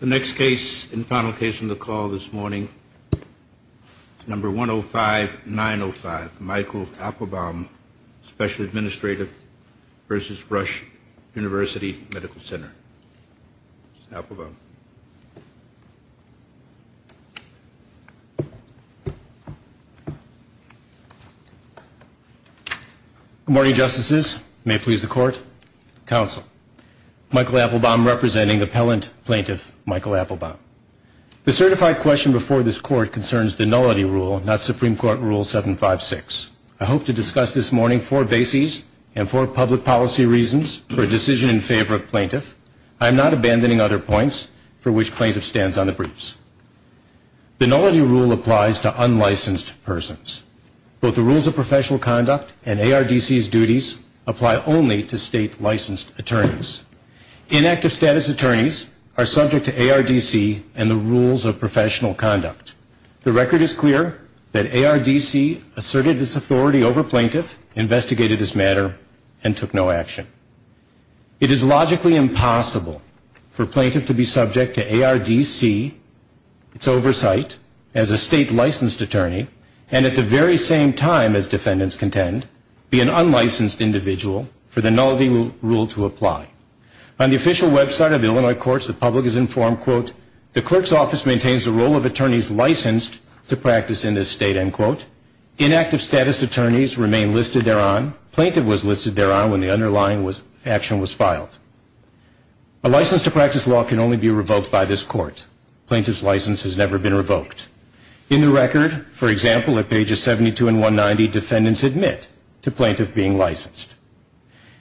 The next case and final case on the call this morning is number 105905, Michael Applebaum, Special Administrative versus Rush University Medical Center. Mr. Applebaum. Good morning, Justices. May it please the Court. Counsel. Michael Applebaum representing Appellant Plaintiff Michael Applebaum. The certified question before this Court concerns the Nullity Rule, not Supreme Court Rule 756. I hope to discuss this morning four bases and four public policy reasons for a decision in favor of Plaintiff. I am not abandoning other points for which Plaintiff stands on the briefs. The Nullity Rule applies to unlicensed persons. Both the rules of professional conduct and ARDC's duties apply only to state licensed attorneys. Inactive status attorneys are subject to ARDC and the rules of professional conduct. The record is clear that ARDC asserted this authority over Plaintiff, investigated this matter, and took no action. It is logically impossible for Plaintiff to be subject to ARDC, its oversight as a state licensed attorney, and at the very same time, as defendants contend, be an unlicensed individual for the Nullity Rule to apply. On the official website of Illinois courts, the public is informed, quote, the clerk's office maintains the role of attorneys licensed to practice in this state, end quote. Inactive status attorneys remain listed thereon. Plaintiff was listed thereon when the underlying action was filed. A license to practice law can only be revoked by this court. Plaintiff's license has never been revoked. In the record, for example, at pages 72 and 190, defendants admit to Plaintiff being licensed.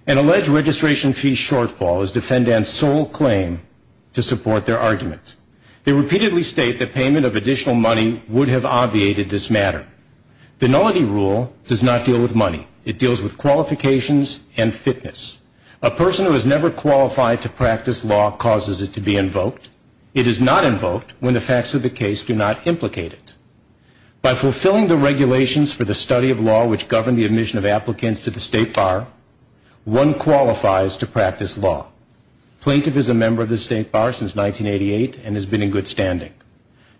An alleged registration fee shortfall is defendant's sole claim to support their argument. They repeatedly state that payment of additional money would have obviated this matter. The Nullity Rule does not deal with money. It deals with qualifications and fitness. A person who is never qualified to practice law causes it to be invoked. It is not invoked when the facts of the case do not implicate it. By fulfilling the regulations for the study of law which govern the admission of applicants to the State Bar, one qualifies to practice law. Plaintiff is a member of the State Bar since 1988 and has been in good standing.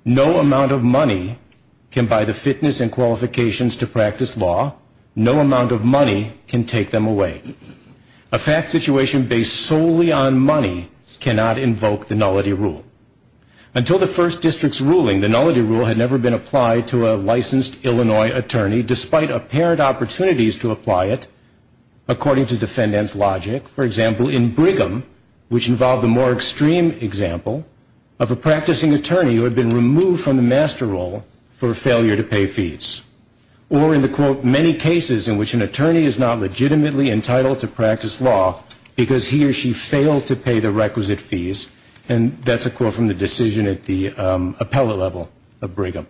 No amount of money can buy the fitness and qualifications to practice law. No amount of money can take them away. A fact situation based solely on money cannot invoke the Nullity Rule. Until the first district's ruling, the Nullity Rule had never been applied to a licensed Illinois attorney despite apparent opportunities to apply it according to defendant's logic. For example, in Brigham, which involved the more extreme example of a practicing attorney who had been removed from the master role for failure to pay fees. Or in the, quote, many cases in which an attorney is not legitimately entitled to practice law because he or she failed to pay the requisite fees. And that's a quote from the decision at the appellate level of Brigham.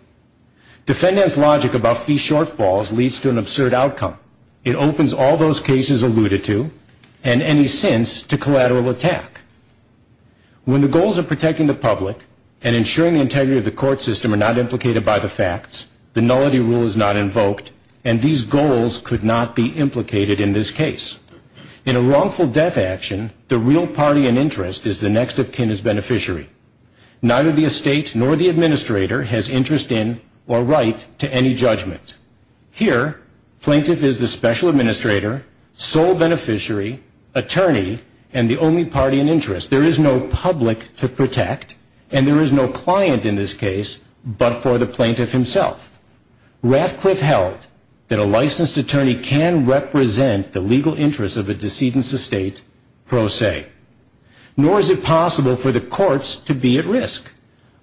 Defendant's logic about fee shortfalls leads to an absurd outcome. It opens all those cases alluded to, and any since, to collateral attack. When the goals of protecting the public and ensuring the integrity of the court system are not implicated by the facts, the Nullity Rule is not invoked, and these goals could not be implicated in this case. In a wrongful death action, the real party in interest is the next of kin as beneficiary. Neither the estate nor the administrator has interest in or right to any judgment. Here, plaintiff is the special administrator, sole beneficiary, attorney, and the only party in interest. There is no public to protect, and there is no client in this case but for the plaintiff himself. Radcliffe held that a licensed attorney can represent the legal interest of a decedent's estate pro se. Nor is it possible for the courts to be at risk.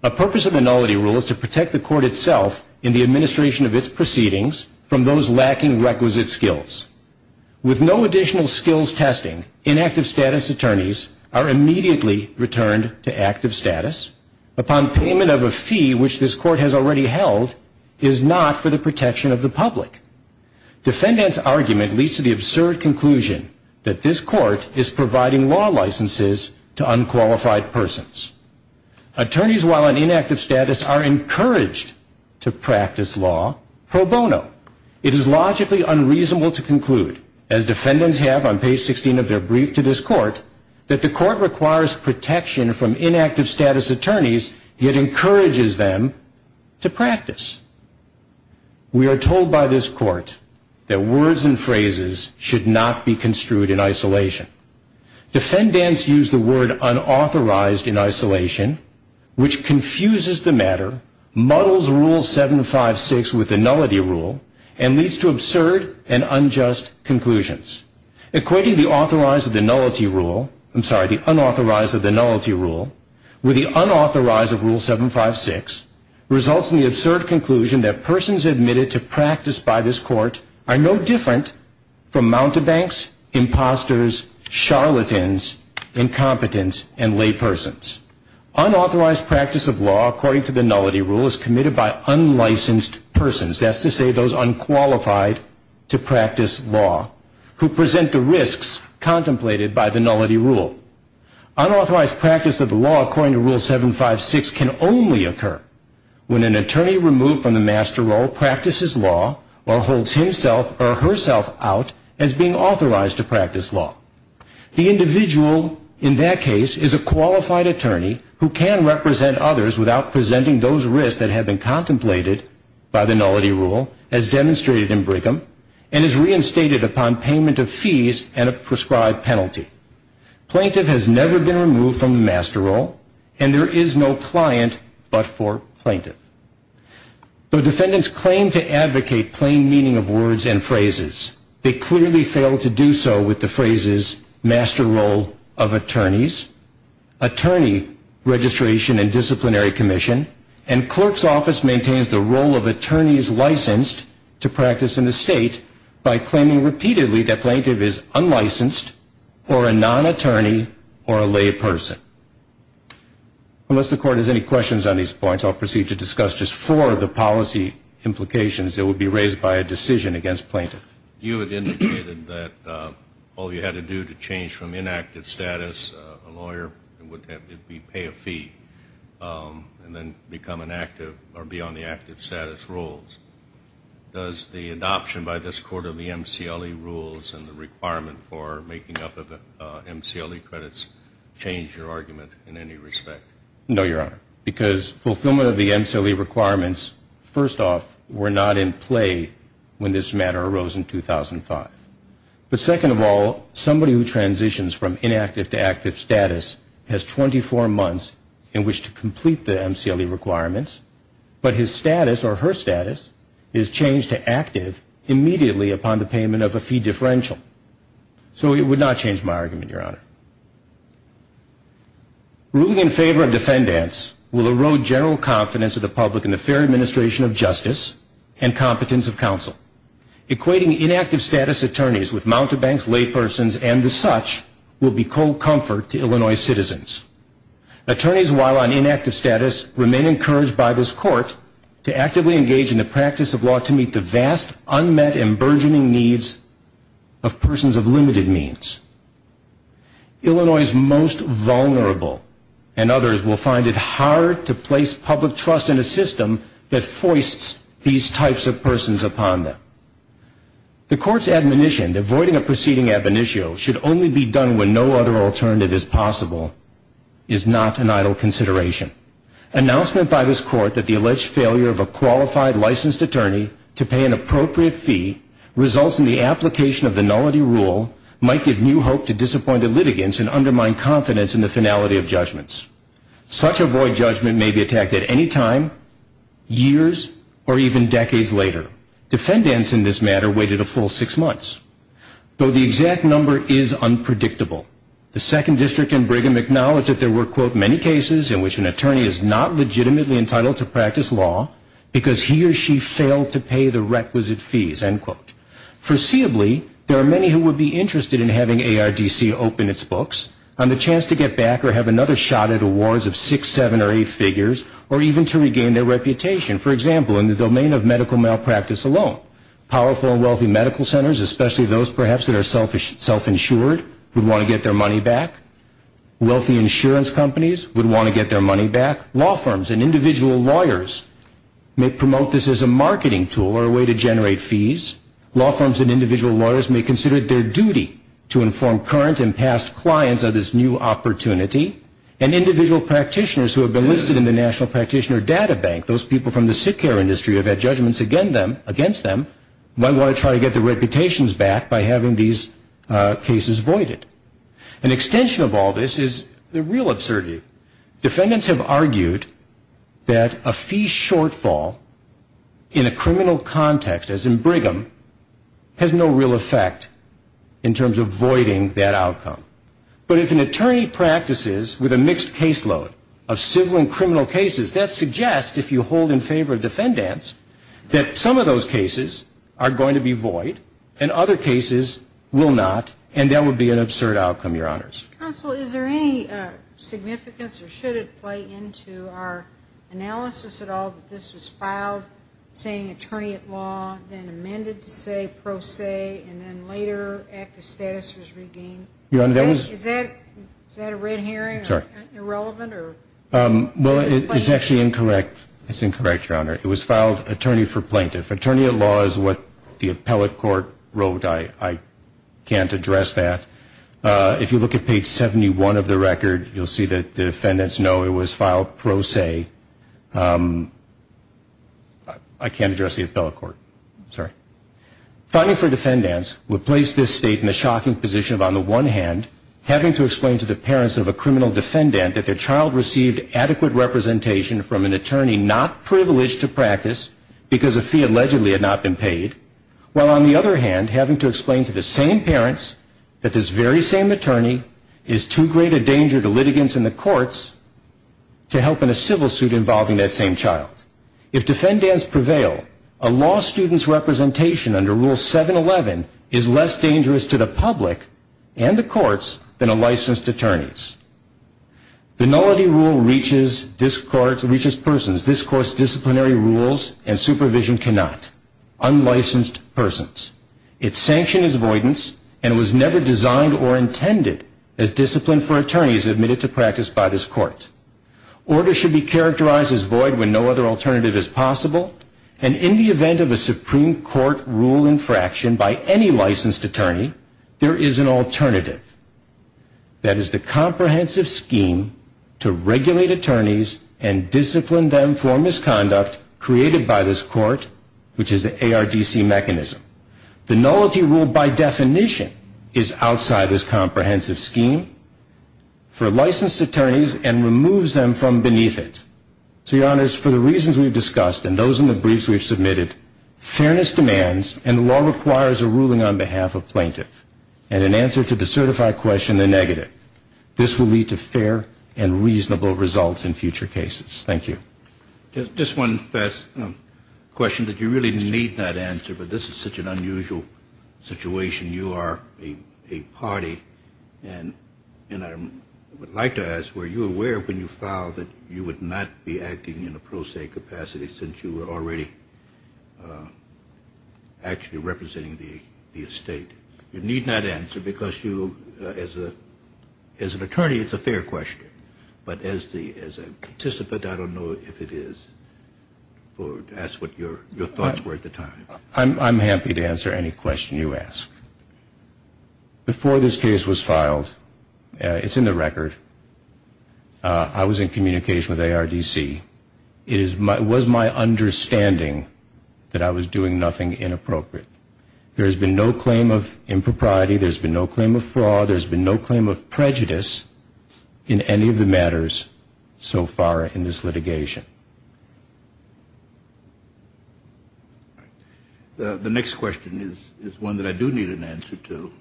A purpose of the Nullity Rule is to protect the court itself and the administration of its proceedings from those lacking requisite skills. With no additional skills testing, inactive status attorneys are immediately returned to active status. Upon payment of a fee, which this court has already held, is not for the protection of the public. Defendant's argument leads to the absurd conclusion that this court is providing law licenses to unqualified persons. Attorneys, while on inactive status, are encouraged to practice law pro bono. It is logically unreasonable to conclude, as defendants have on page 16 of their brief to this court, that the court requires protection from inactive status attorneys, yet encourages them to practice. We are told by this court that words and phrases should not be construed in isolation. Defendants use the word unauthorized in isolation, which confuses the matter, muddles Rule 756 with the Nullity Rule, and leads to absurd and unjust conclusions. Equating the unauthorized of the Nullity Rule with the unauthorized of Rule 756 results in the absurd conclusion that persons admitted to practice by this court are no different from mountebanks, imposters, charlatans, incompetents, and laypersons. Unauthorized practice of law according to the Nullity Rule is committed by unlicensed persons, that's to say those unqualified to practice law, who present the risks contemplated by the Nullity Rule. Unauthorized practice of the law according to Rule 756 can only occur when an attorney removed from the master role practices law or holds himself or herself out as being authorized to practice law. The individual in that case is a qualified attorney who can represent others without presenting those risks that have been contemplated by the Nullity Rule, as demonstrated in Brigham, and is reinstated upon payment of fees and a prescribed penalty. Plaintiff has never been removed from the master role, and there is no client but for plaintiff. Though defendants claim to advocate plain meaning of words and phrases, they clearly fail to do so with the phrases master role of attorneys, attorney registration and disciplinary commission, and clerk's office maintains the role of attorneys licensed to practice in the state by claiming repeatedly that plaintiff is unlicensed or a non-attorney or a layperson. Unless the court has any questions on these points, I'll proceed to discuss just four of the policy implications that would be raised by a decision against plaintiff. You had indicated that all you had to do to change from inactive status, a lawyer, would be pay a fee and then become an active or be on the active status rules. Does the adoption by this court of the MCLE rules and the requirement for making up of MCLE credits change your argument in any respect? No, Your Honor, because fulfillment of the MCLE requirements, first off, were not in play when this matter arose in 2005. But second of all, somebody who transitions from inactive to active status has 24 months in which to complete the MCLE requirements, but his status or her status is changed to active immediately upon the payment of a fee differential. So it would not change my argument, Your Honor. Ruling in favor of defendants will erode general confidence of the public in the fair administration of justice and competence of counsel. Equating inactive status attorneys with mountebanks, laypersons, and the such will be cold comfort to Illinois citizens. Attorneys while on inactive status remain encouraged by this court to actively engage in the practice of law to meet the vast, unmet, and burgeoning needs of persons of limited means. Illinois' most vulnerable and others will find it hard to place public trust in a system that foists these types of persons upon them. The court's admonition that avoiding a proceeding ab initio should only be done when no other alternative is possible is not an idle consideration. Announcement by this court that the alleged failure of a qualified licensed attorney to pay an appropriate fee results in the application of the nullity rule might give new hope to disappointed litigants and undermine confidence in the finality of judgments. Such a void judgment may be attacked at any time, years, or even decades later. Defendants in this matter waited a full six months, though the exact number is unpredictable. The Second District in Brigham acknowledged that there were, quote, many cases in which an attorney is not legitimately entitled to practice law because he or she failed to pay the requisite fees, end quote. Foreseeably, there are many who would be interested in having ARDC open its books on the chance to get back or have another shot at awards of six, seven, or eight figures, or even to regain their reputation, for example, in the domain of medical malpractice alone. Powerful and wealthy medical centers, especially those perhaps that are self-insured, would want to get their money back. Wealthy insurance companies would want to get their money back. Law firms and individual lawyers may promote this as a marketing tool or a way to generate fees. Law firms and individual lawyers may consider it their duty to inform current and past clients of this new opportunity. And individual practitioners who have been listed in the National Practitioner Data Bank, those people from the sick care industry who have had judgments against them, might want to try to get their reputations back by having these cases voided. An extension of all this is the real absurdity. That a fee shortfall in a criminal context, as in Brigham, has no real effect in terms of voiding that outcome. But if an attorney practices with a mixed caseload of civil and criminal cases, that suggests, if you hold in favor of defendants, that some of those cases are going to be void and other cases will not, and that would be an absurd outcome, Your Honors. Counsel, is there any significance or should it play into our analysis at all that this was filed saying attorney at law, then amended to say pro se, and then later active status was regained? Is that a red herring or irrelevant? Well, it's actually incorrect. It's incorrect, Your Honor. It was filed attorney for plaintiff. Attorney at law is what the appellate court wrote. I can't address that. If you look at page 71 of the record, you'll see that the defendants know it was filed pro se. I can't address the appellate court. Sorry. Finding for defendants would place this state in a shocking position on the one hand, having to explain to the parents of a criminal defendant that their child received adequate representation from an attorney not privileged to practice because a fee allegedly had not been paid, while on the other hand having to explain to the same parents that this very same attorney is too great a danger to litigants in the courts to help in a civil suit involving that same child. If defendants prevail, a law student's representation under Rule 711 is less dangerous to the public and the courts than a licensed attorney's. The nullity rule reaches persons. This course disciplinary rules and supervision cannot. Unlicensed persons. Its sanction is avoidance and was never designed or intended as discipline for attorneys admitted to practice by this court. Order should be characterized as void when no other alternative is possible, and in the event of a Supreme Court rule infraction by any licensed attorney, there is an alternative. That is the comprehensive scheme to regulate attorneys and discipline them for misconduct created by this court, which is the ARDC mechanism. The nullity rule by definition is outside this comprehensive scheme for licensed attorneys and removes them from beneath it. So, Your Honors, for the reasons we've discussed and those in the briefs we've submitted, fairness demands and the law requires a ruling on behalf of plaintiff. And in answer to the certified question, the negative. This will lead to fair and reasonable results in future cases. Thank you. Just one question that you really need not answer, but this is such an unusual situation. You are a party, and I would like to ask, were you aware when you filed that you would not be acting in a pro se capacity since you were already actually representing the estate? You need not answer because you, as an attorney, it's a fair question. But as a participant, I don't know if it is. Ask what your thoughts were at the time. I'm happy to answer any question you ask. Before this case was filed, it's in the record, I was in communication with ARDC. It was my understanding that I was doing nothing inappropriate. There's been no claim of impropriety. There's been no claim of fraud. There's been no claim of prejudice in any of the matters so far in this litigation. The next question is one that I do need an answer to.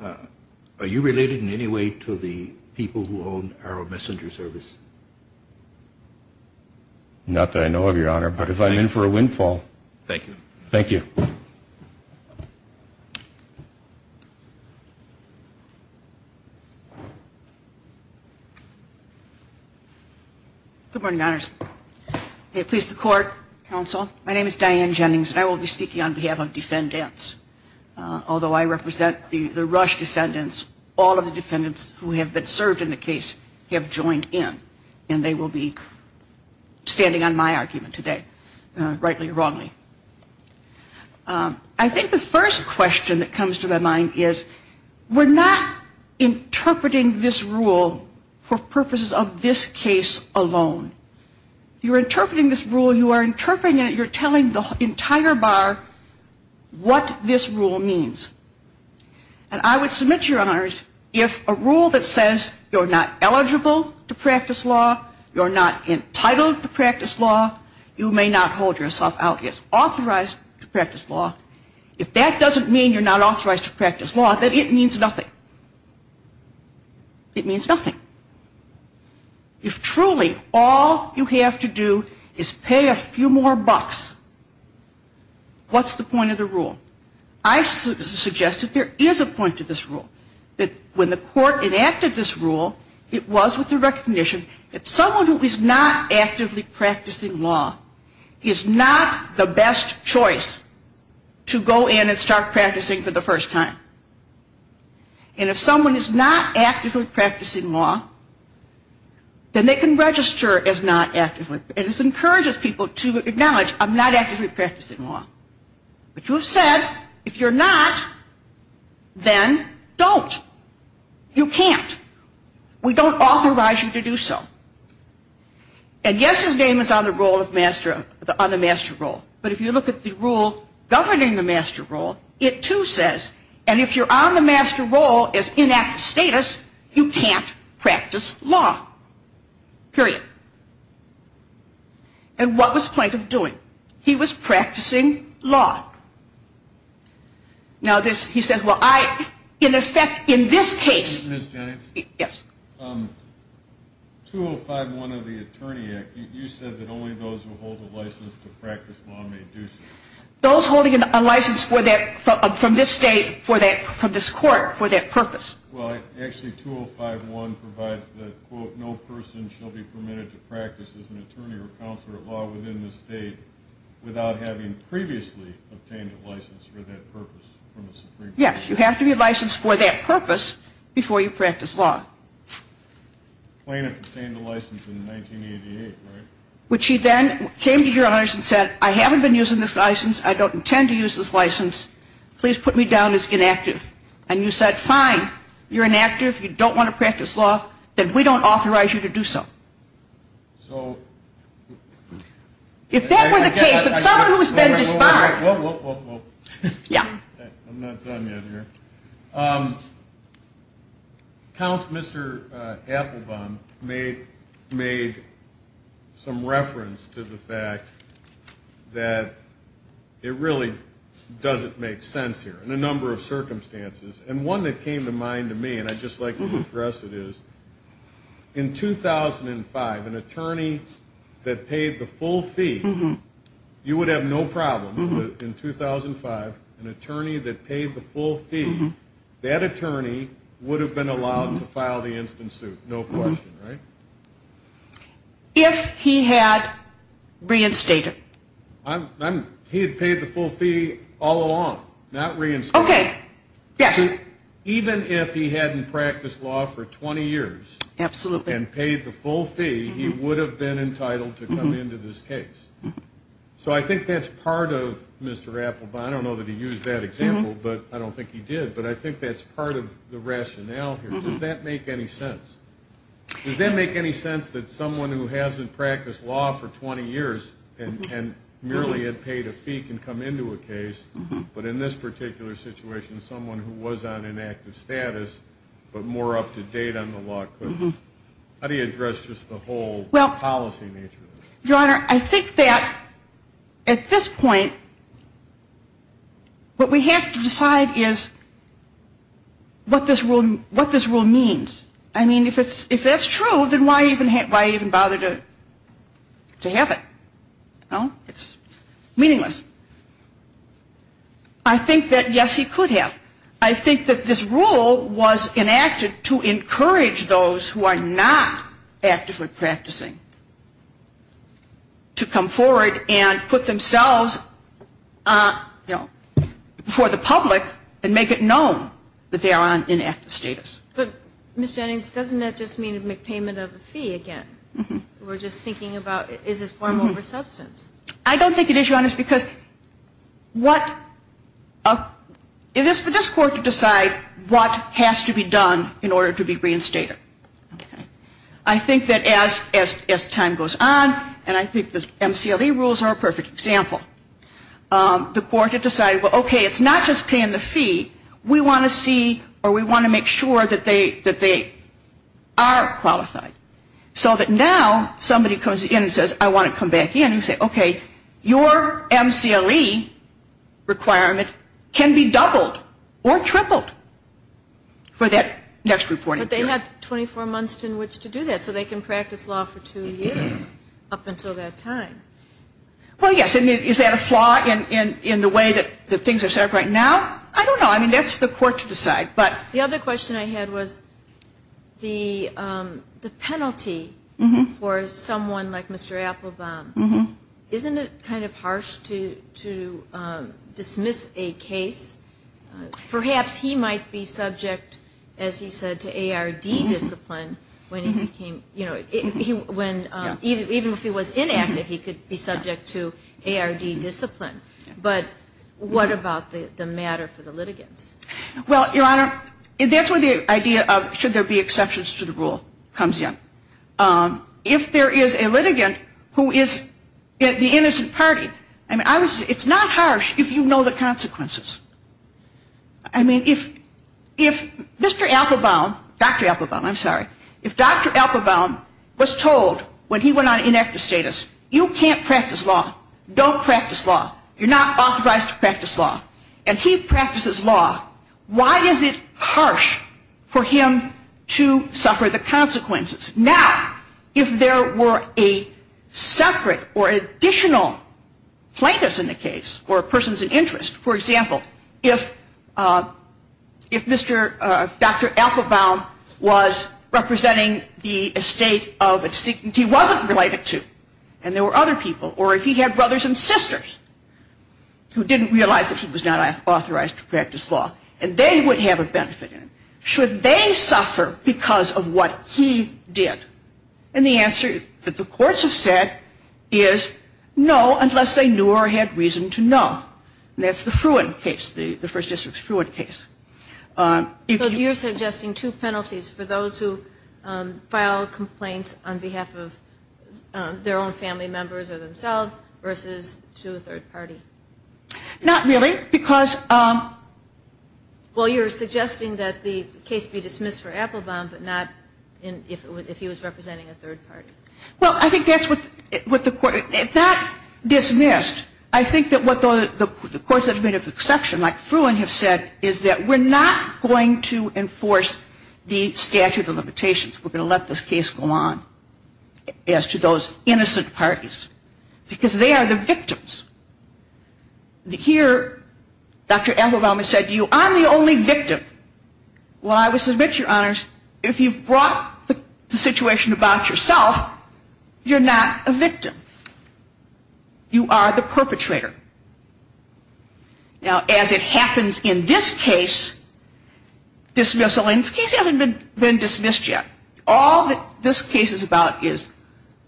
Are you related in any way to the people who own Arrow Messenger Service? Not that I know of, Your Honor, but if I'm in for a windfall. Thank you. Thank you. Good morning, Your Honors. May it please the Court, Counsel. My name is Diane Jennings and I will be speaking on behalf of defendants. Although I represent the Rush defendants, all of the defendants who have been served in the case have joined in and they will be standing on my argument today, rightly or wrongly. I think the first question that comes to my mind is we're not interpreting this rule for purposes of this case alone. You're interpreting this rule, you are interpreting it, you're telling the entire bar what this rule means. And I would submit to Your Honors, if a rule that says you're not eligible to practice law, you're not entitled to practice law, you may not hold yourself out as authorized to practice law, if that doesn't mean you're not authorized to practice law, then it means nothing. It means nothing. If truly all you have to do is pay a few more bucks, what's the point of the rule? I suggest that there is a point to this rule. That when the Court enacted this rule, it was with the recognition that someone who is not actively practicing law is not the best choice to go in and start practicing for the first time. And if someone is not actively practicing law, then they can register as not actively. And this encourages people to acknowledge, I'm not actively practicing law. But you have said, if you're not, then don't. You can't. We don't authorize you to do so. And yes, his name is on the master rule. But if you look at the rule governing the master rule, it too says, and if you're on the master rule as inactive status, you can't practice law. Period. And what was Plankton doing? He was practicing law. Now this, he said, well, I, in effect, in this case. Ms. Jennings? Yes. 205-1 of the Attorney Act, you said that only those who hold a license to practice law may do so. Those holding a license from this state, from this court, for that purpose. Well, actually, 205-1 provides that, quote, no person shall be permitted to practice as an attorney or counselor of law within the state without having previously obtained a license for that purpose from the Supreme Court. Yes, you have to be licensed for that purpose before you practice law. Plankton obtained a license in 1988, right? Which he then came to Your Honors and said, I haven't been using this license. I don't intend to use this license. Please put me down as inactive. And you said, fine, you're inactive. You don't want to practice law. Then we don't authorize you to do so. So. If that were the case of someone who has been disbarred. Whoa, whoa, whoa, whoa. Yeah. I'm not done yet here. Count Mr. Applebaum made some reference to the fact that it really doesn't make sense here in a number of circumstances. And one that came to mind to me, and I'd just like to address it, is in 2005, an attorney that paid the full fee, you would have no problem with, in 2005, an attorney that paid the full fee, that attorney would have been allowed to file the instant suit, no question, right? If he had reinstated. He had paid the full fee all along, not reinstated. Okay, yes. Even if he hadn't practiced law for 20 years. Absolutely. And paid the full fee, he would have been entitled to come into this case. So I think that's part of Mr. Applebaum. I don't know that he used that example, but I don't think he did. But I think that's part of the rationale here. Does that make any sense? Does that make any sense that someone who hasn't practiced law for 20 years and merely had paid a fee can come into a case, but in this particular situation, someone who was on inactive status, but more up to date on the law, how do you address just the whole policy nature of it? Your Honor, I think that at this point what we have to decide is what this rule means. I mean, if that's true, then why even bother to have it? It's meaningless. I think that, yes, he could have. I think that this rule was enacted to encourage those who are not actively practicing to come forward and put themselves before the public and make it known that they are on inactive status. But, Ms. Jennings, doesn't that just mean a payment of a fee again? We're just thinking about is this form over substance? I don't think it is, Your Honor, because it is for this court to decide what has to be done in order to be reinstated. I think that as time goes on, and I think the MCLE rules are a perfect example, the court had decided, well, okay, it's not just paying the fee. We want to see or we want to make sure that they are qualified. So that now somebody comes in and says, I want to come back in. You say, okay, your MCLE requirement can be doubled or tripled for that next reporting period. But they have 24 months in which to do that, so they can practice law for two years up until that time. Well, yes. I mean, is that a flaw in the way that things are set up right now? I don't know. I mean, that's for the court to decide. The other question I had was the penalty for someone like Mr. Applebaum. Isn't it kind of harsh to dismiss a case? Perhaps he might be subject, as he said, to ARD discipline when he became, you know, even if he was inactive, he could be subject to ARD discipline. But what about the matter for the litigants? Well, Your Honor, that's where the idea of should there be exceptions to the rule comes in. If there is a litigant who is the innocent party, I mean, it's not harsh if you know the consequences. I mean, if Mr. Applebaum, Dr. Applebaum, I'm sorry, if Dr. Applebaum was told when he went on inactive status, you can't practice law, don't practice law, you're not authorized to practice law, and he practices law, why is it harsh for him to suffer the consequences? Now, if there were a separate or additional plaintiffs in the case or persons of interest, for example, if Mr. or Dr. Applebaum was representing the estate of a descendant he wasn't related to and there were other people, or if he had brothers and sisters who didn't realize that he was not authorized to practice law and they would have a benefit in it, should they suffer because of what he did? And the answer that the courts have said is no, unless they knew or had reason to know. And that's the Fruin case, the First District's Fruin case. So you're suggesting two penalties for those who file complaints on behalf of their own family members or themselves versus to a third party? Not really, because... Well, you're suggesting that the case be dismissed for Applebaum, but not if he was representing a third party. Well, I think that's what the court, if not dismissed, I think that what the courts have made of exception, like Fruin have said, is that we're not going to enforce the statute of limitations. We're going to let this case go on as to those innocent parties, because they are the victims. Here, Dr. Applebaum has said, you are the only victim. Well, I will submit, Your Honors, if you've brought the situation about yourself, you're not a victim. You are the perpetrator. Now, as it happens in this case, dismissal, and this case hasn't been dismissed yet. All that this case is about is,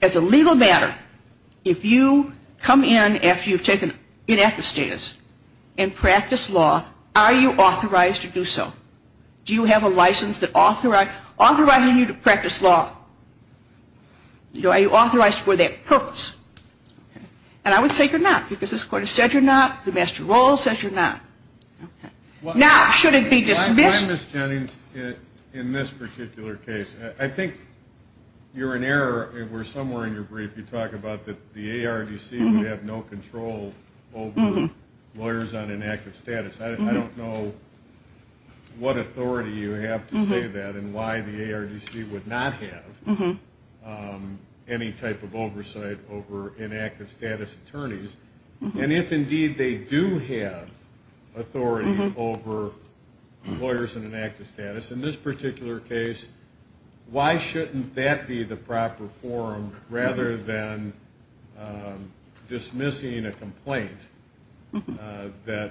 as a legal matter, if you come in after you've taken inactive status and practiced law, are you authorized to do so? Do you have a license that authorizes you to practice law? Are you authorized for that purpose? And I would say you're not, because this court has said you're not. The master rule says you're not. Now, should it be dismissed? Why, Ms. Jennings, in this particular case, I think you're in error. Somewhere in your brief, you talk about that the ARDC would have no control over lawyers on inactive status. I don't know what authority you have to say that and why the ARDC would not have any type of oversight over inactive status attorneys. And if, indeed, they do have authority over lawyers in inactive status, in this particular case, why shouldn't that be the proper forum rather than dismissing a complaint that,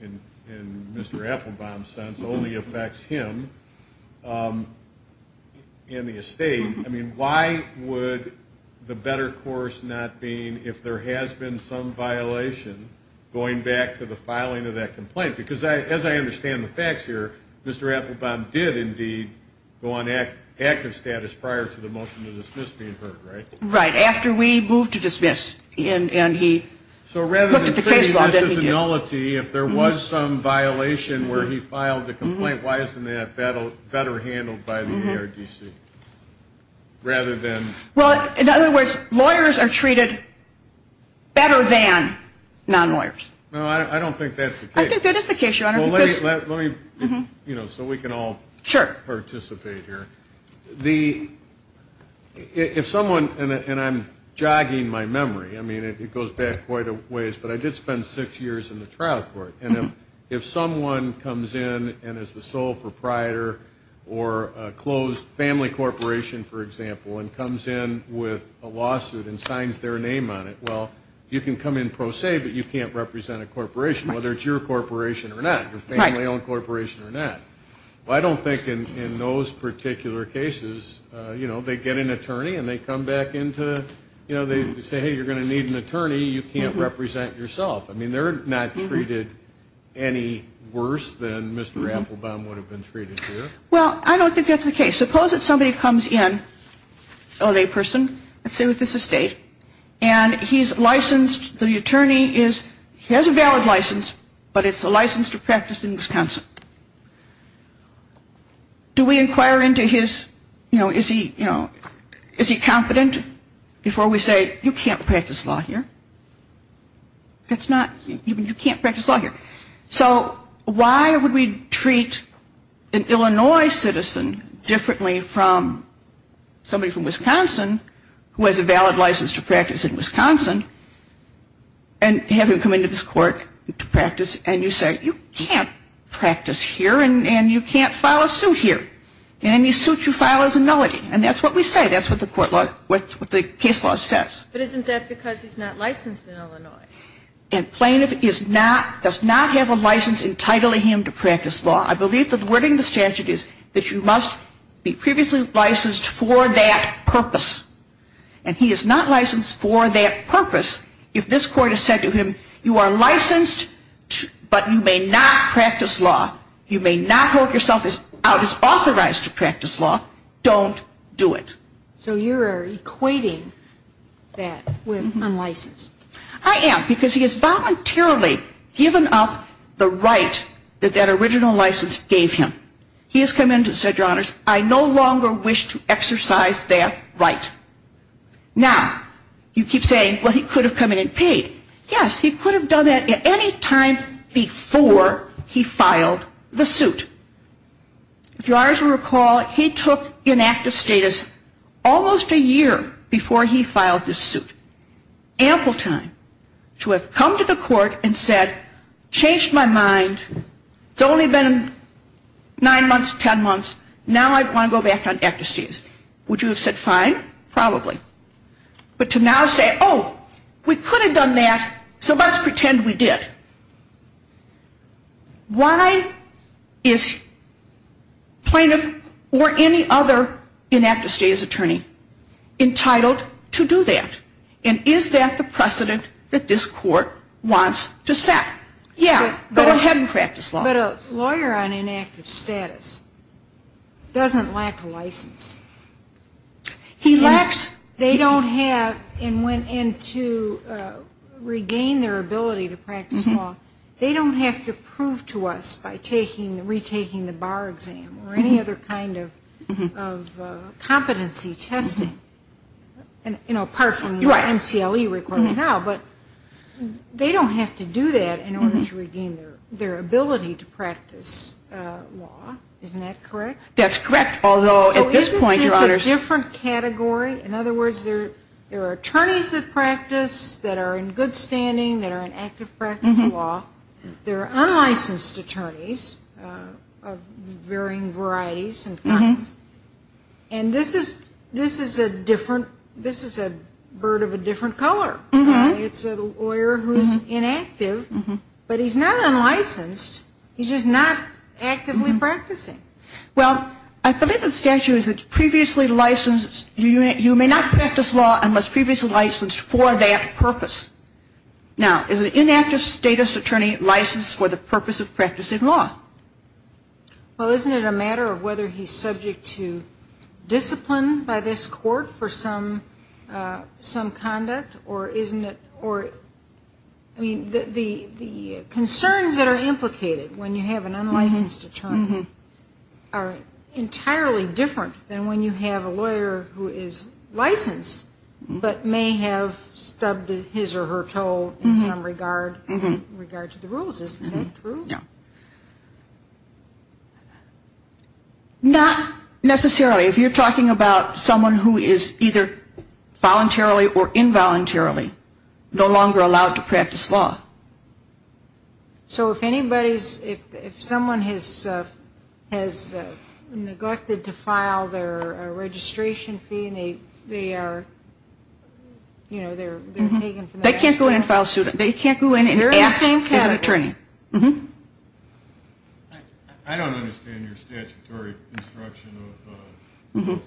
in Mr. Applebaum's sense, only affects him and the estate? I mean, why would the better course not being if there has been some violation going back to the filing of that complaint? Because as I understand the facts here, Mr. Applebaum did, indeed, go on active status prior to the motion to dismiss being heard, right? Right. After we moved to dismiss and he looked at the case law, then he did. If there was some violation where he filed the complaint, why isn't that better handled by the ARDC rather than? Well, in other words, lawyers are treated better than non-lawyers. No, I don't think that's the case. I think that is the case, Your Honor. Well, let me, you know, so we can all participate here. Sure. If someone, and I'm jogging my memory, I mean, it goes back quite a ways, but I did spend six years in the trial court, and if someone comes in and is the sole proprietor or a closed family corporation, for example, and comes in with a lawsuit and signs their name on it, well, you can come in pro se, but you can't represent a corporation whether it's your corporation or not, your family-owned corporation or not. Well, I don't think in those particular cases, you know, they get an attorney and they come back into, you know, they say, hey, you're going to need an attorney, you can't represent yourself. I mean, they're not treated any worse than Mr. Applebaum would have been treated here. Well, I don't think that's the case. Suppose that somebody comes in, an LA person, let's say with this estate, and he's licensed, the attorney is, he has a valid license, but it's a license to practice in Wisconsin. Do we inquire into his, you know, is he, you know, is he competent before we say, you can't practice law here? That's not, you can't practice law here. So why would we treat an Illinois citizen differently from somebody from Wisconsin who has a valid license to practice in Wisconsin? And have him come into this court to practice and you say, you can't practice here and you can't file a suit here. In any suit you file is a nullity. And that's what we say. That's what the court law, what the case law says. But isn't that because he's not licensed in Illinois? A plaintiff is not, does not have a license entitling him to practice law. I believe that the wording of the statute is that you must be previously licensed for that purpose. And he is not licensed for that purpose if this court has said to him, you are licensed, but you may not practice law. You may not hold yourself out as authorized to practice law. Don't do it. So you're equating that with unlicensed? I am, because he has voluntarily given up the right that that original license gave him. He has come in and said, your honors, I no longer wish to exercise that right. Now, you keep saying, well, he could have come in and paid. Yes, he could have done that at any time before he filed the suit. If your honors will recall, he took inactive status almost a year before he filed this suit. Ample time. To have come to the court and said, changed my mind. It's only been nine months, ten months. Now I want to go back on active status. Would you have said fine? Probably. But to now say, oh, we could have done that, so let's pretend we did. Why is plaintiff or any other inactive status attorney entitled to do that? And is that the precedent that this court wants to set? Yeah, go ahead and practice law. But a lawyer on inactive status doesn't lack a license. They don't have, and to regain their ability to practice law, they don't have to prove to us by retaking the bar exam or any other kind of competency testing. And apart from MCLE requirements now, but they don't have to do that in order to redeem their ability to practice law. Isn't that correct? That's correct, although at this point, your honors. So isn't this a different category? In other words, there are attorneys that practice, that are in good standing, that are in active practice of law. There are unlicensed attorneys of varying varieties and kinds. And this is a different, this is a bird of a different color. It's a lawyer who's inactive, but he's not unlicensed. He's just not actively practicing. Well, I believe the statute is that previously licensed, you may not practice law unless previously licensed for that purpose. Now, is an inactive status attorney licensed for the purpose of practicing law? Well, isn't it a matter of whether he's subject to discipline by this court for some conduct, or isn't it, I mean, the concerns that are implicated when you have an unlicensed attorney are entirely different than when you have a lawyer who is licensed, but may have stubbed his or her toe in some regard to the rules. Isn't that true? No. Not necessarily. If you're talking about someone who is either voluntarily or involuntarily no longer allowed to practice law. So if anybody's, if someone has neglected to file their registration fee, and they are, you know, they're taken from that student. They can't go in and file a student. They can't go in and ask as an attorney. I don't understand your statutory instruction of 5-1.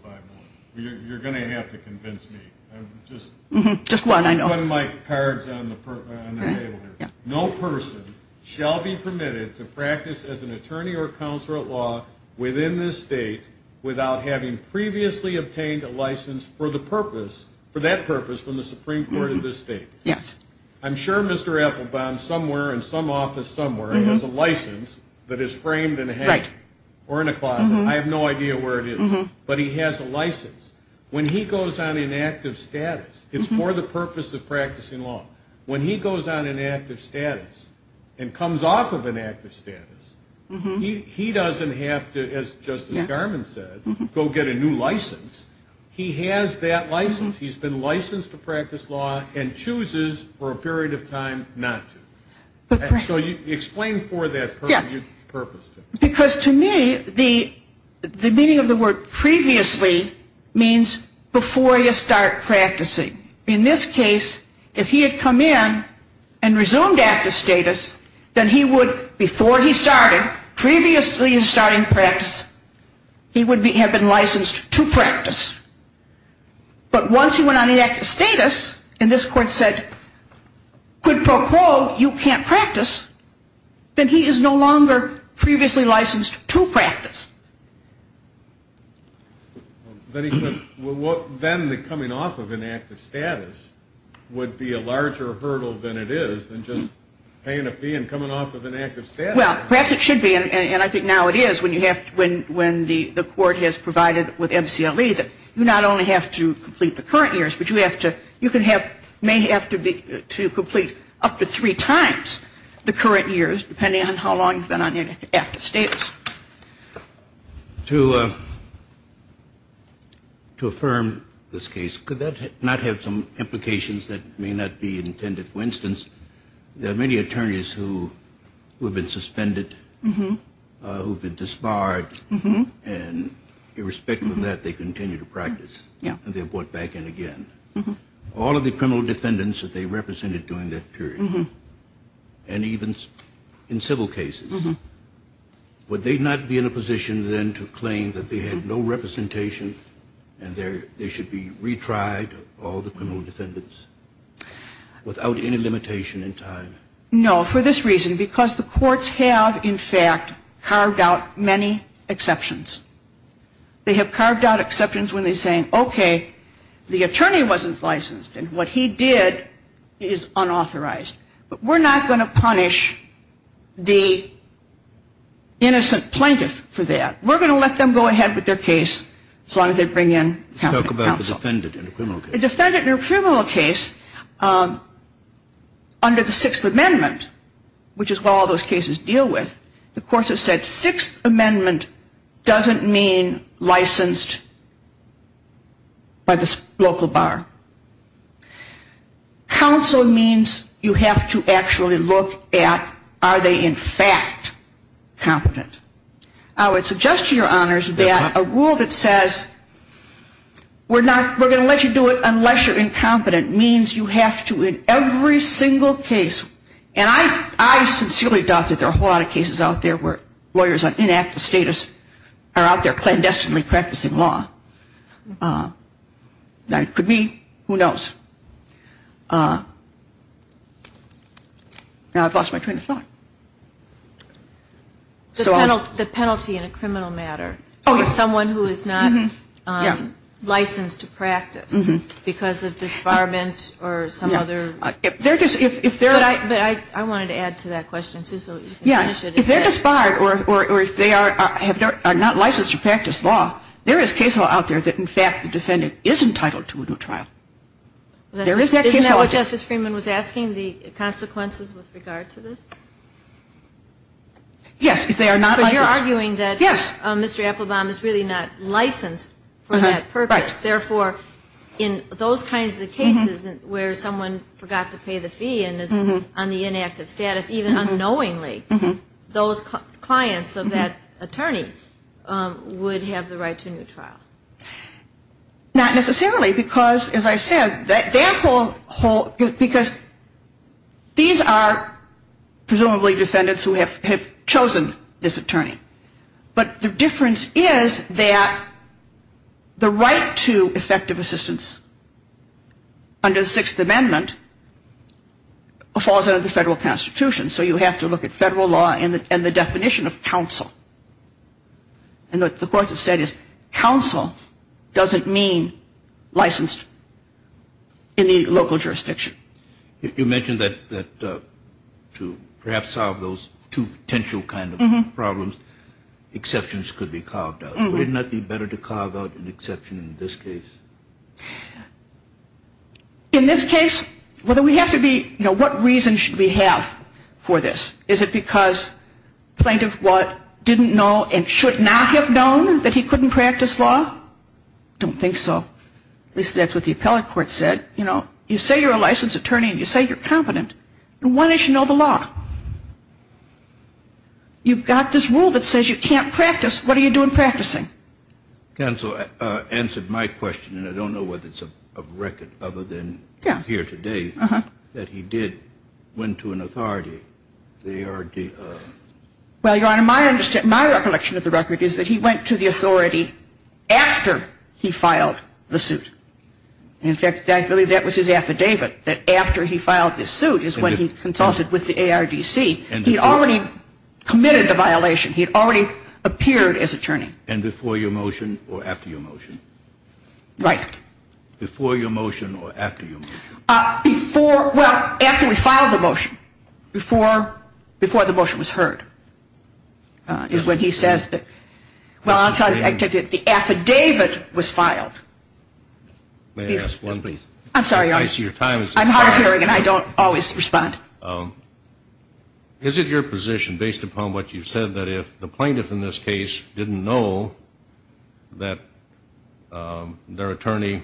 You're going to have to convince me. Just one, I know. One of my cards on the table here. No person shall be permitted to practice as an attorney or counselor at law within this state without having previously obtained a license for the purpose, for that purpose, from the Supreme Court of this state. Yes. I'm sure Mr. Applebaum somewhere in some office somewhere has a license that is framed in a hat. Right. Or in a closet. I have no idea where it is. But he has a license. When he goes on inactive status, it's for the purpose of practicing law. When he goes on inactive status and comes off of inactive status, he doesn't have to, as Justice Garmon said, go get a new license. He has that license. He's been licensed to practice law and chooses for a period of time not to. So explain for that person your purpose. Because to me, the meaning of the word previously means before you start practicing. In this case, if he had come in and resumed active status, then he would, before he started, previously in starting practice, he would have been licensed to practice. But once he went on inactive status, and this Court said, could proclaim you can't practice, then he is no longer previously licensed to practice. Then the coming off of inactive status would be a larger hurdle than it is, than just paying a fee and coming off of inactive status. Well, perhaps it should be, and I think now it is, when the Court has provided with MCLE that you not only have to complete the current years, but you may have to complete up to three times the current years, depending on how long you've been on inactive status. To affirm this case, could that not have some implications that may not be intended? For instance, there are many attorneys who have been suspended, who have been disbarred, and irrespective of that, they continue to practice, and they're brought back in again. All of the criminal defendants that they represented during that period, and even in civil cases, would they not be in a position then to claim that they had no representation and they should be retried, all the criminal defendants, without any limitation in time? No, for this reason. Because the courts have, in fact, carved out many exceptions. They have carved out exceptions when they're saying, okay, the attorney wasn't licensed, and what he did is unauthorized. But we're not going to punish the innocent plaintiff for that. We're going to let them go ahead with their case as long as they bring in counsel. Let's talk about the defendant in a criminal case. The defendant in a criminal case, under the Sixth Amendment, which is what all those cases deal with, the courts have said Sixth Amendment doesn't mean licensed by the local bar. Counsel means you have to actually look at, are they in fact competent? I would suggest to your honors that a rule that says we're going to let you do it unless you're incompetent means you have to in every single case. And I sincerely doubt that there are a whole lot of cases out there where lawyers on inactive status are out there clandestinely practicing law. That could be, who knows. Now I've lost my train of thought. The penalty in a criminal matter for someone who is not licensed to practice because of disbarment or some other But I wanted to add to that question, Sue, so you can finish it. If they're disbarred or if they are not licensed to practice law, there is case law out there that in fact the defendant is entitled to a new trial. There is that case law. Isn't that what Justice Freeman was asking, the consequences with regard to this? Yes, if they are not licensed. You're arguing that Mr. Applebaum is really not licensed for that purpose. Right. Therefore, in those kinds of cases where someone forgot to pay the fee and is on the inactive status, even unknowingly those clients of that attorney would have the right to a new trial. Not necessarily because, as I said, because these are presumably defendants who have chosen this attorney. But the difference is that the right to effective assistance under the Sixth Amendment falls under the federal constitution. So you have to look at federal law and the definition of counsel. And what the courts have said is counsel doesn't mean licensed in the local jurisdiction. You mentioned that to perhaps solve those two potential kinds of problems, exceptions could be carved out. Wouldn't it be better to carve out an exception in this case? In this case, whether we have to be, you know, what reason should we have for this? Is it because plaintiff didn't know and should not have known that he couldn't practice law? Don't think so. At least that's what the appellate court said. You know, you say you're a licensed attorney and you say you're competent. And why don't you know the law? You've got this rule that says you can't practice. What are you doing practicing? Counsel answered my question, and I don't know whether it's of record other than here today, that he did went to an authority, the ARD. Well, Your Honor, my recollection of the record is that he went to the authority after he filed the suit. In fact, I believe that was his affidavit, that after he filed his suit is when he consulted with the ARDC. He had already committed the violation. He had already appeared as attorney. And before your motion or after your motion? Right. Before your motion or after your motion? Before, well, after we filed the motion. Before the motion was heard is when he says that, well, I'll tell you, I take it the affidavit was filed. May I ask one thing? I'm sorry. I see your time is expired. I'm hard of hearing, and I don't always respond. Is it your position, based upon what you've said, that if the plaintiff in this case didn't know that their attorney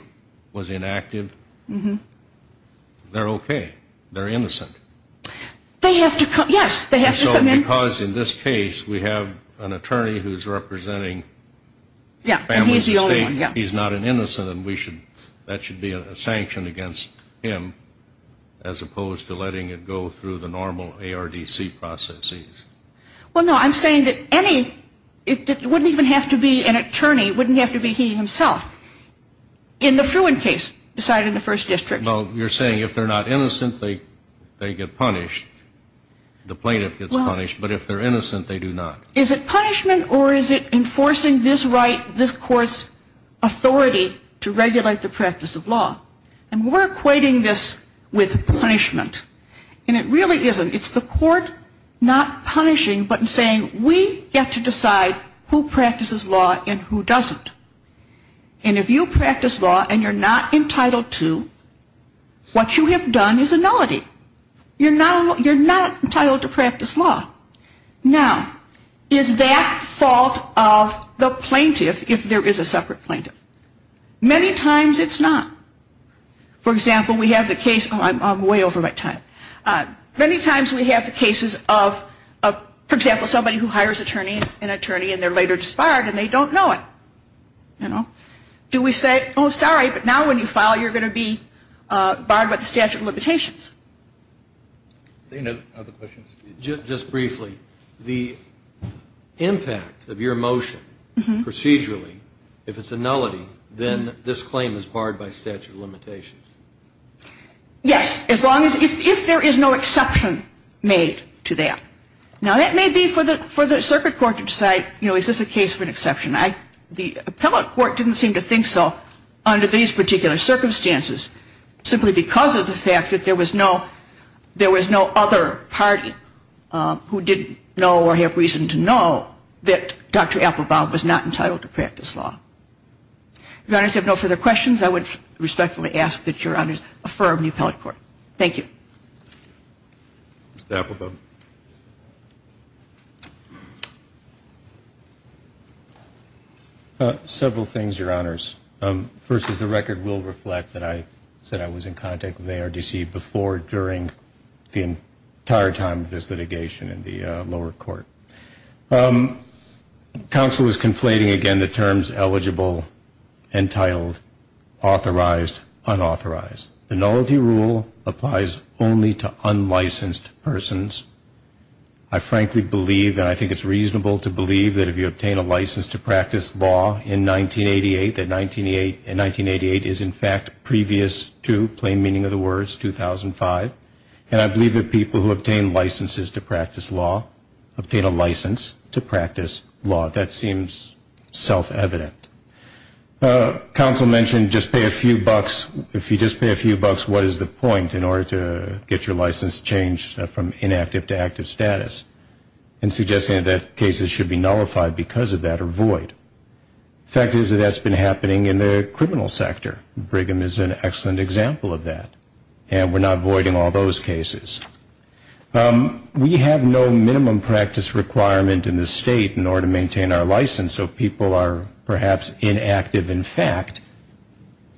was inactive? Mm-hmm. They're okay. They're innocent. They have to come, yes, they have to come in. And so because in this case we have an attorney who's representing families of state. Yeah, and he's the only one, yeah. He's not an innocent, and we should, that should be a sanction against him as opposed to letting it go through the normal ARDC processes. Well, no, I'm saying that any, it wouldn't even have to be an attorney. It wouldn't have to be he himself. In the Fruin case, decided in the first district. Well, you're saying if they're not innocent, they get punished. The plaintiff gets punished, but if they're innocent, they do not. Is it punishment, or is it enforcing this right, this Court's authority to regulate the practice of law? And we're equating this with punishment, and it really isn't. It's the Court not punishing, but saying we get to decide who practices law and who doesn't. And if you practice law and you're not entitled to, what you have done is a nullity. You're not entitled to practice law. Now, is that fault of the plaintiff if there is a separate plaintiff? Many times it's not. For example, we have the case, oh, I'm way over my time. Many times we have the cases of, for example, somebody who hires an attorney and they're later disbarred and they don't know it. Do we say, oh, sorry, but now when you file, you're going to be barred by the statute of limitations? Any other questions? Just briefly, the impact of your motion procedurally, if it's a nullity, then this claim is barred by statute of limitations. Yes, as long as if there is no exception made to that. Now, that may be for the circuit court to decide, you know, is this a case for an exception? The appellate court didn't seem to think so under these particular circumstances simply because of the fact that there was no other party who didn't know or have reason to know that Dr. Applebaum was not entitled to practice law. If Your Honors have no further questions, I would respectfully ask that Your Honors affirm the appellate court. Thank you. Mr. Applebaum. Several things, Your Honors. First is the record will reflect that I said I was in contact with ARDC before, during the entire time of this litigation in the lower court. Counsel is conflating again the terms eligible, entitled, authorized, unauthorized. The nullity rule applies only to unlicensed persons. I frankly believe, and I think it's reasonable to believe, that if you obtain a license to practice law in 1988, that 1988 is in fact previous to, plain meaning of the words, 2005. And I believe that people who obtain licenses to practice law, obtain a license to practice law. That seems self-evident. Counsel mentioned just pay a few bucks. If you just pay a few bucks, what is the point in order to get your license changed from inactive to active status? And suggesting that cases should be nullified because of that or void. The fact is that that's been happening in the criminal sector. Brigham is an excellent example of that. And we're not voiding all those cases. We have no minimum practice requirement in the state in order to maintain our license, so people are perhaps inactive in fact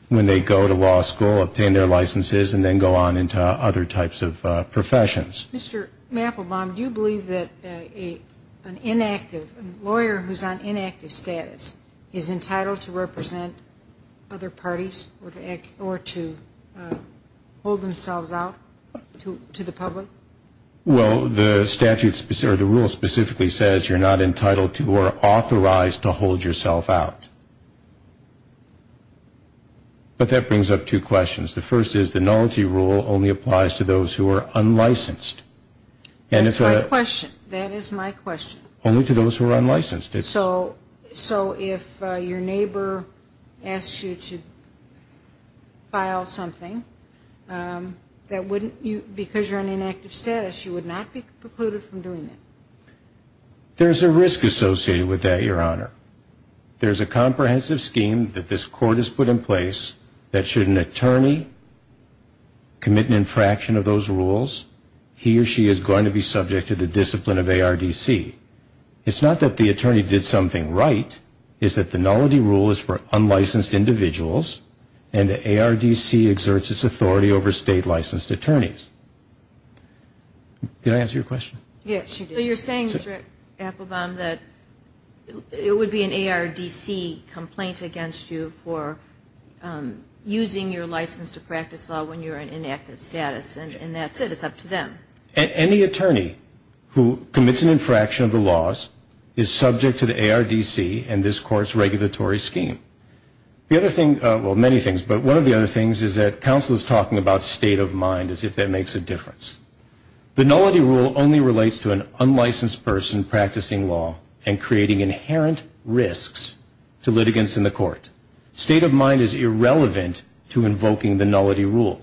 when they go to law school, obtain their licenses, and then go on into other types of professions. Mr. Mappelbaum, do you believe that an inactive lawyer who's on inactive status is entitled to represent other parties or to hold themselves out to the public? Well, the rule specifically says you're not entitled to or authorized to hold yourself out. But that brings up two questions. The first is the nullity rule only applies to those who are unlicensed. That's my question. That is my question. Only to those who are unlicensed. So if your neighbor asks you to file something, because you're on inactive status you would not be precluded from doing that? There's a risk associated with that, Your Honor. There's a comprehensive scheme that this Court has put in place that should an attorney commit an infraction of those rules, he or she is going to be subject to the discipline of ARDC. It's not that the attorney did something right. It's that the nullity rule is for unlicensed individuals and the ARDC exerts its authority over state-licensed attorneys. Did I answer your question? Yes, you did. So you're saying, Mr. Mappelbaum, that it would be an ARDC complaint against you for using your license to practice law when you're in inactive status. And that's it. It's up to them. Any attorney who commits an infraction of the laws is subject to the ARDC and this Court's regulatory scheme. The other thing, well, many things, but one of the other things is that counsel is talking about state of mind as if that makes a difference. The nullity rule only relates to an unlicensed person practicing law and creating inherent risks to litigants in the Court. State of mind is irrelevant to invoking the nullity rule.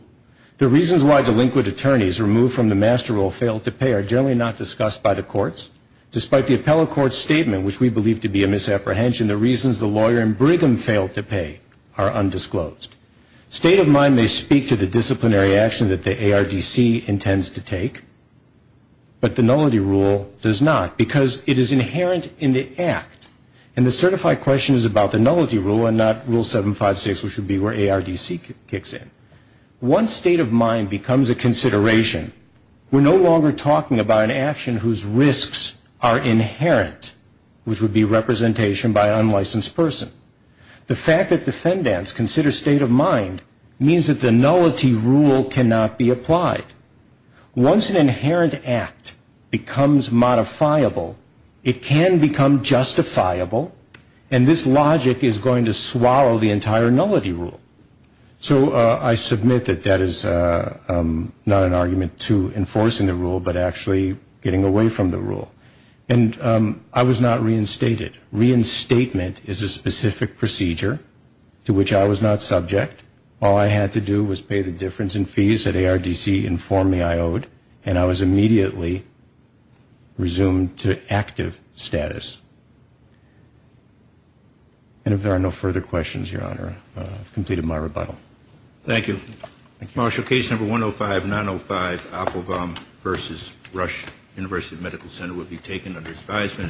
The reasons why delinquent attorneys removed from the master rule fail to pay are generally not discussed by the courts. Despite the appellate court's statement, which we believe to be a misapprehension, the reasons the lawyer in Brigham failed to pay are undisclosed. State of mind may speak to the disciplinary action that the ARDC intends to take, but the nullity rule does not because it is inherent in the act. And the certified question is about the nullity rule and not Rule 756, which would be where ARDC kicks in. Once state of mind becomes a consideration, we're no longer talking about an action whose risks are inherent, which would be representation by an unlicensed person. The fact that defendants consider state of mind means that the nullity rule cannot be applied. Once an inherent act becomes modifiable, it can become justifiable, and this logic is going to swallow the entire nullity rule. So I submit that that is not an argument to enforcing the rule, but actually getting away from the rule. And I was not reinstated. Reinstatement is a specific procedure to which I was not subject. All I had to do was pay the difference in fees that ARDC informed me I owed, and I was immediately resumed to active status. And if there are no further questions, Your Honor, I've completed my rebuttal. Thank you. Marshal, case number 105905, Oppelbaum v. Rush, University Medical Center, will be taken under advisement.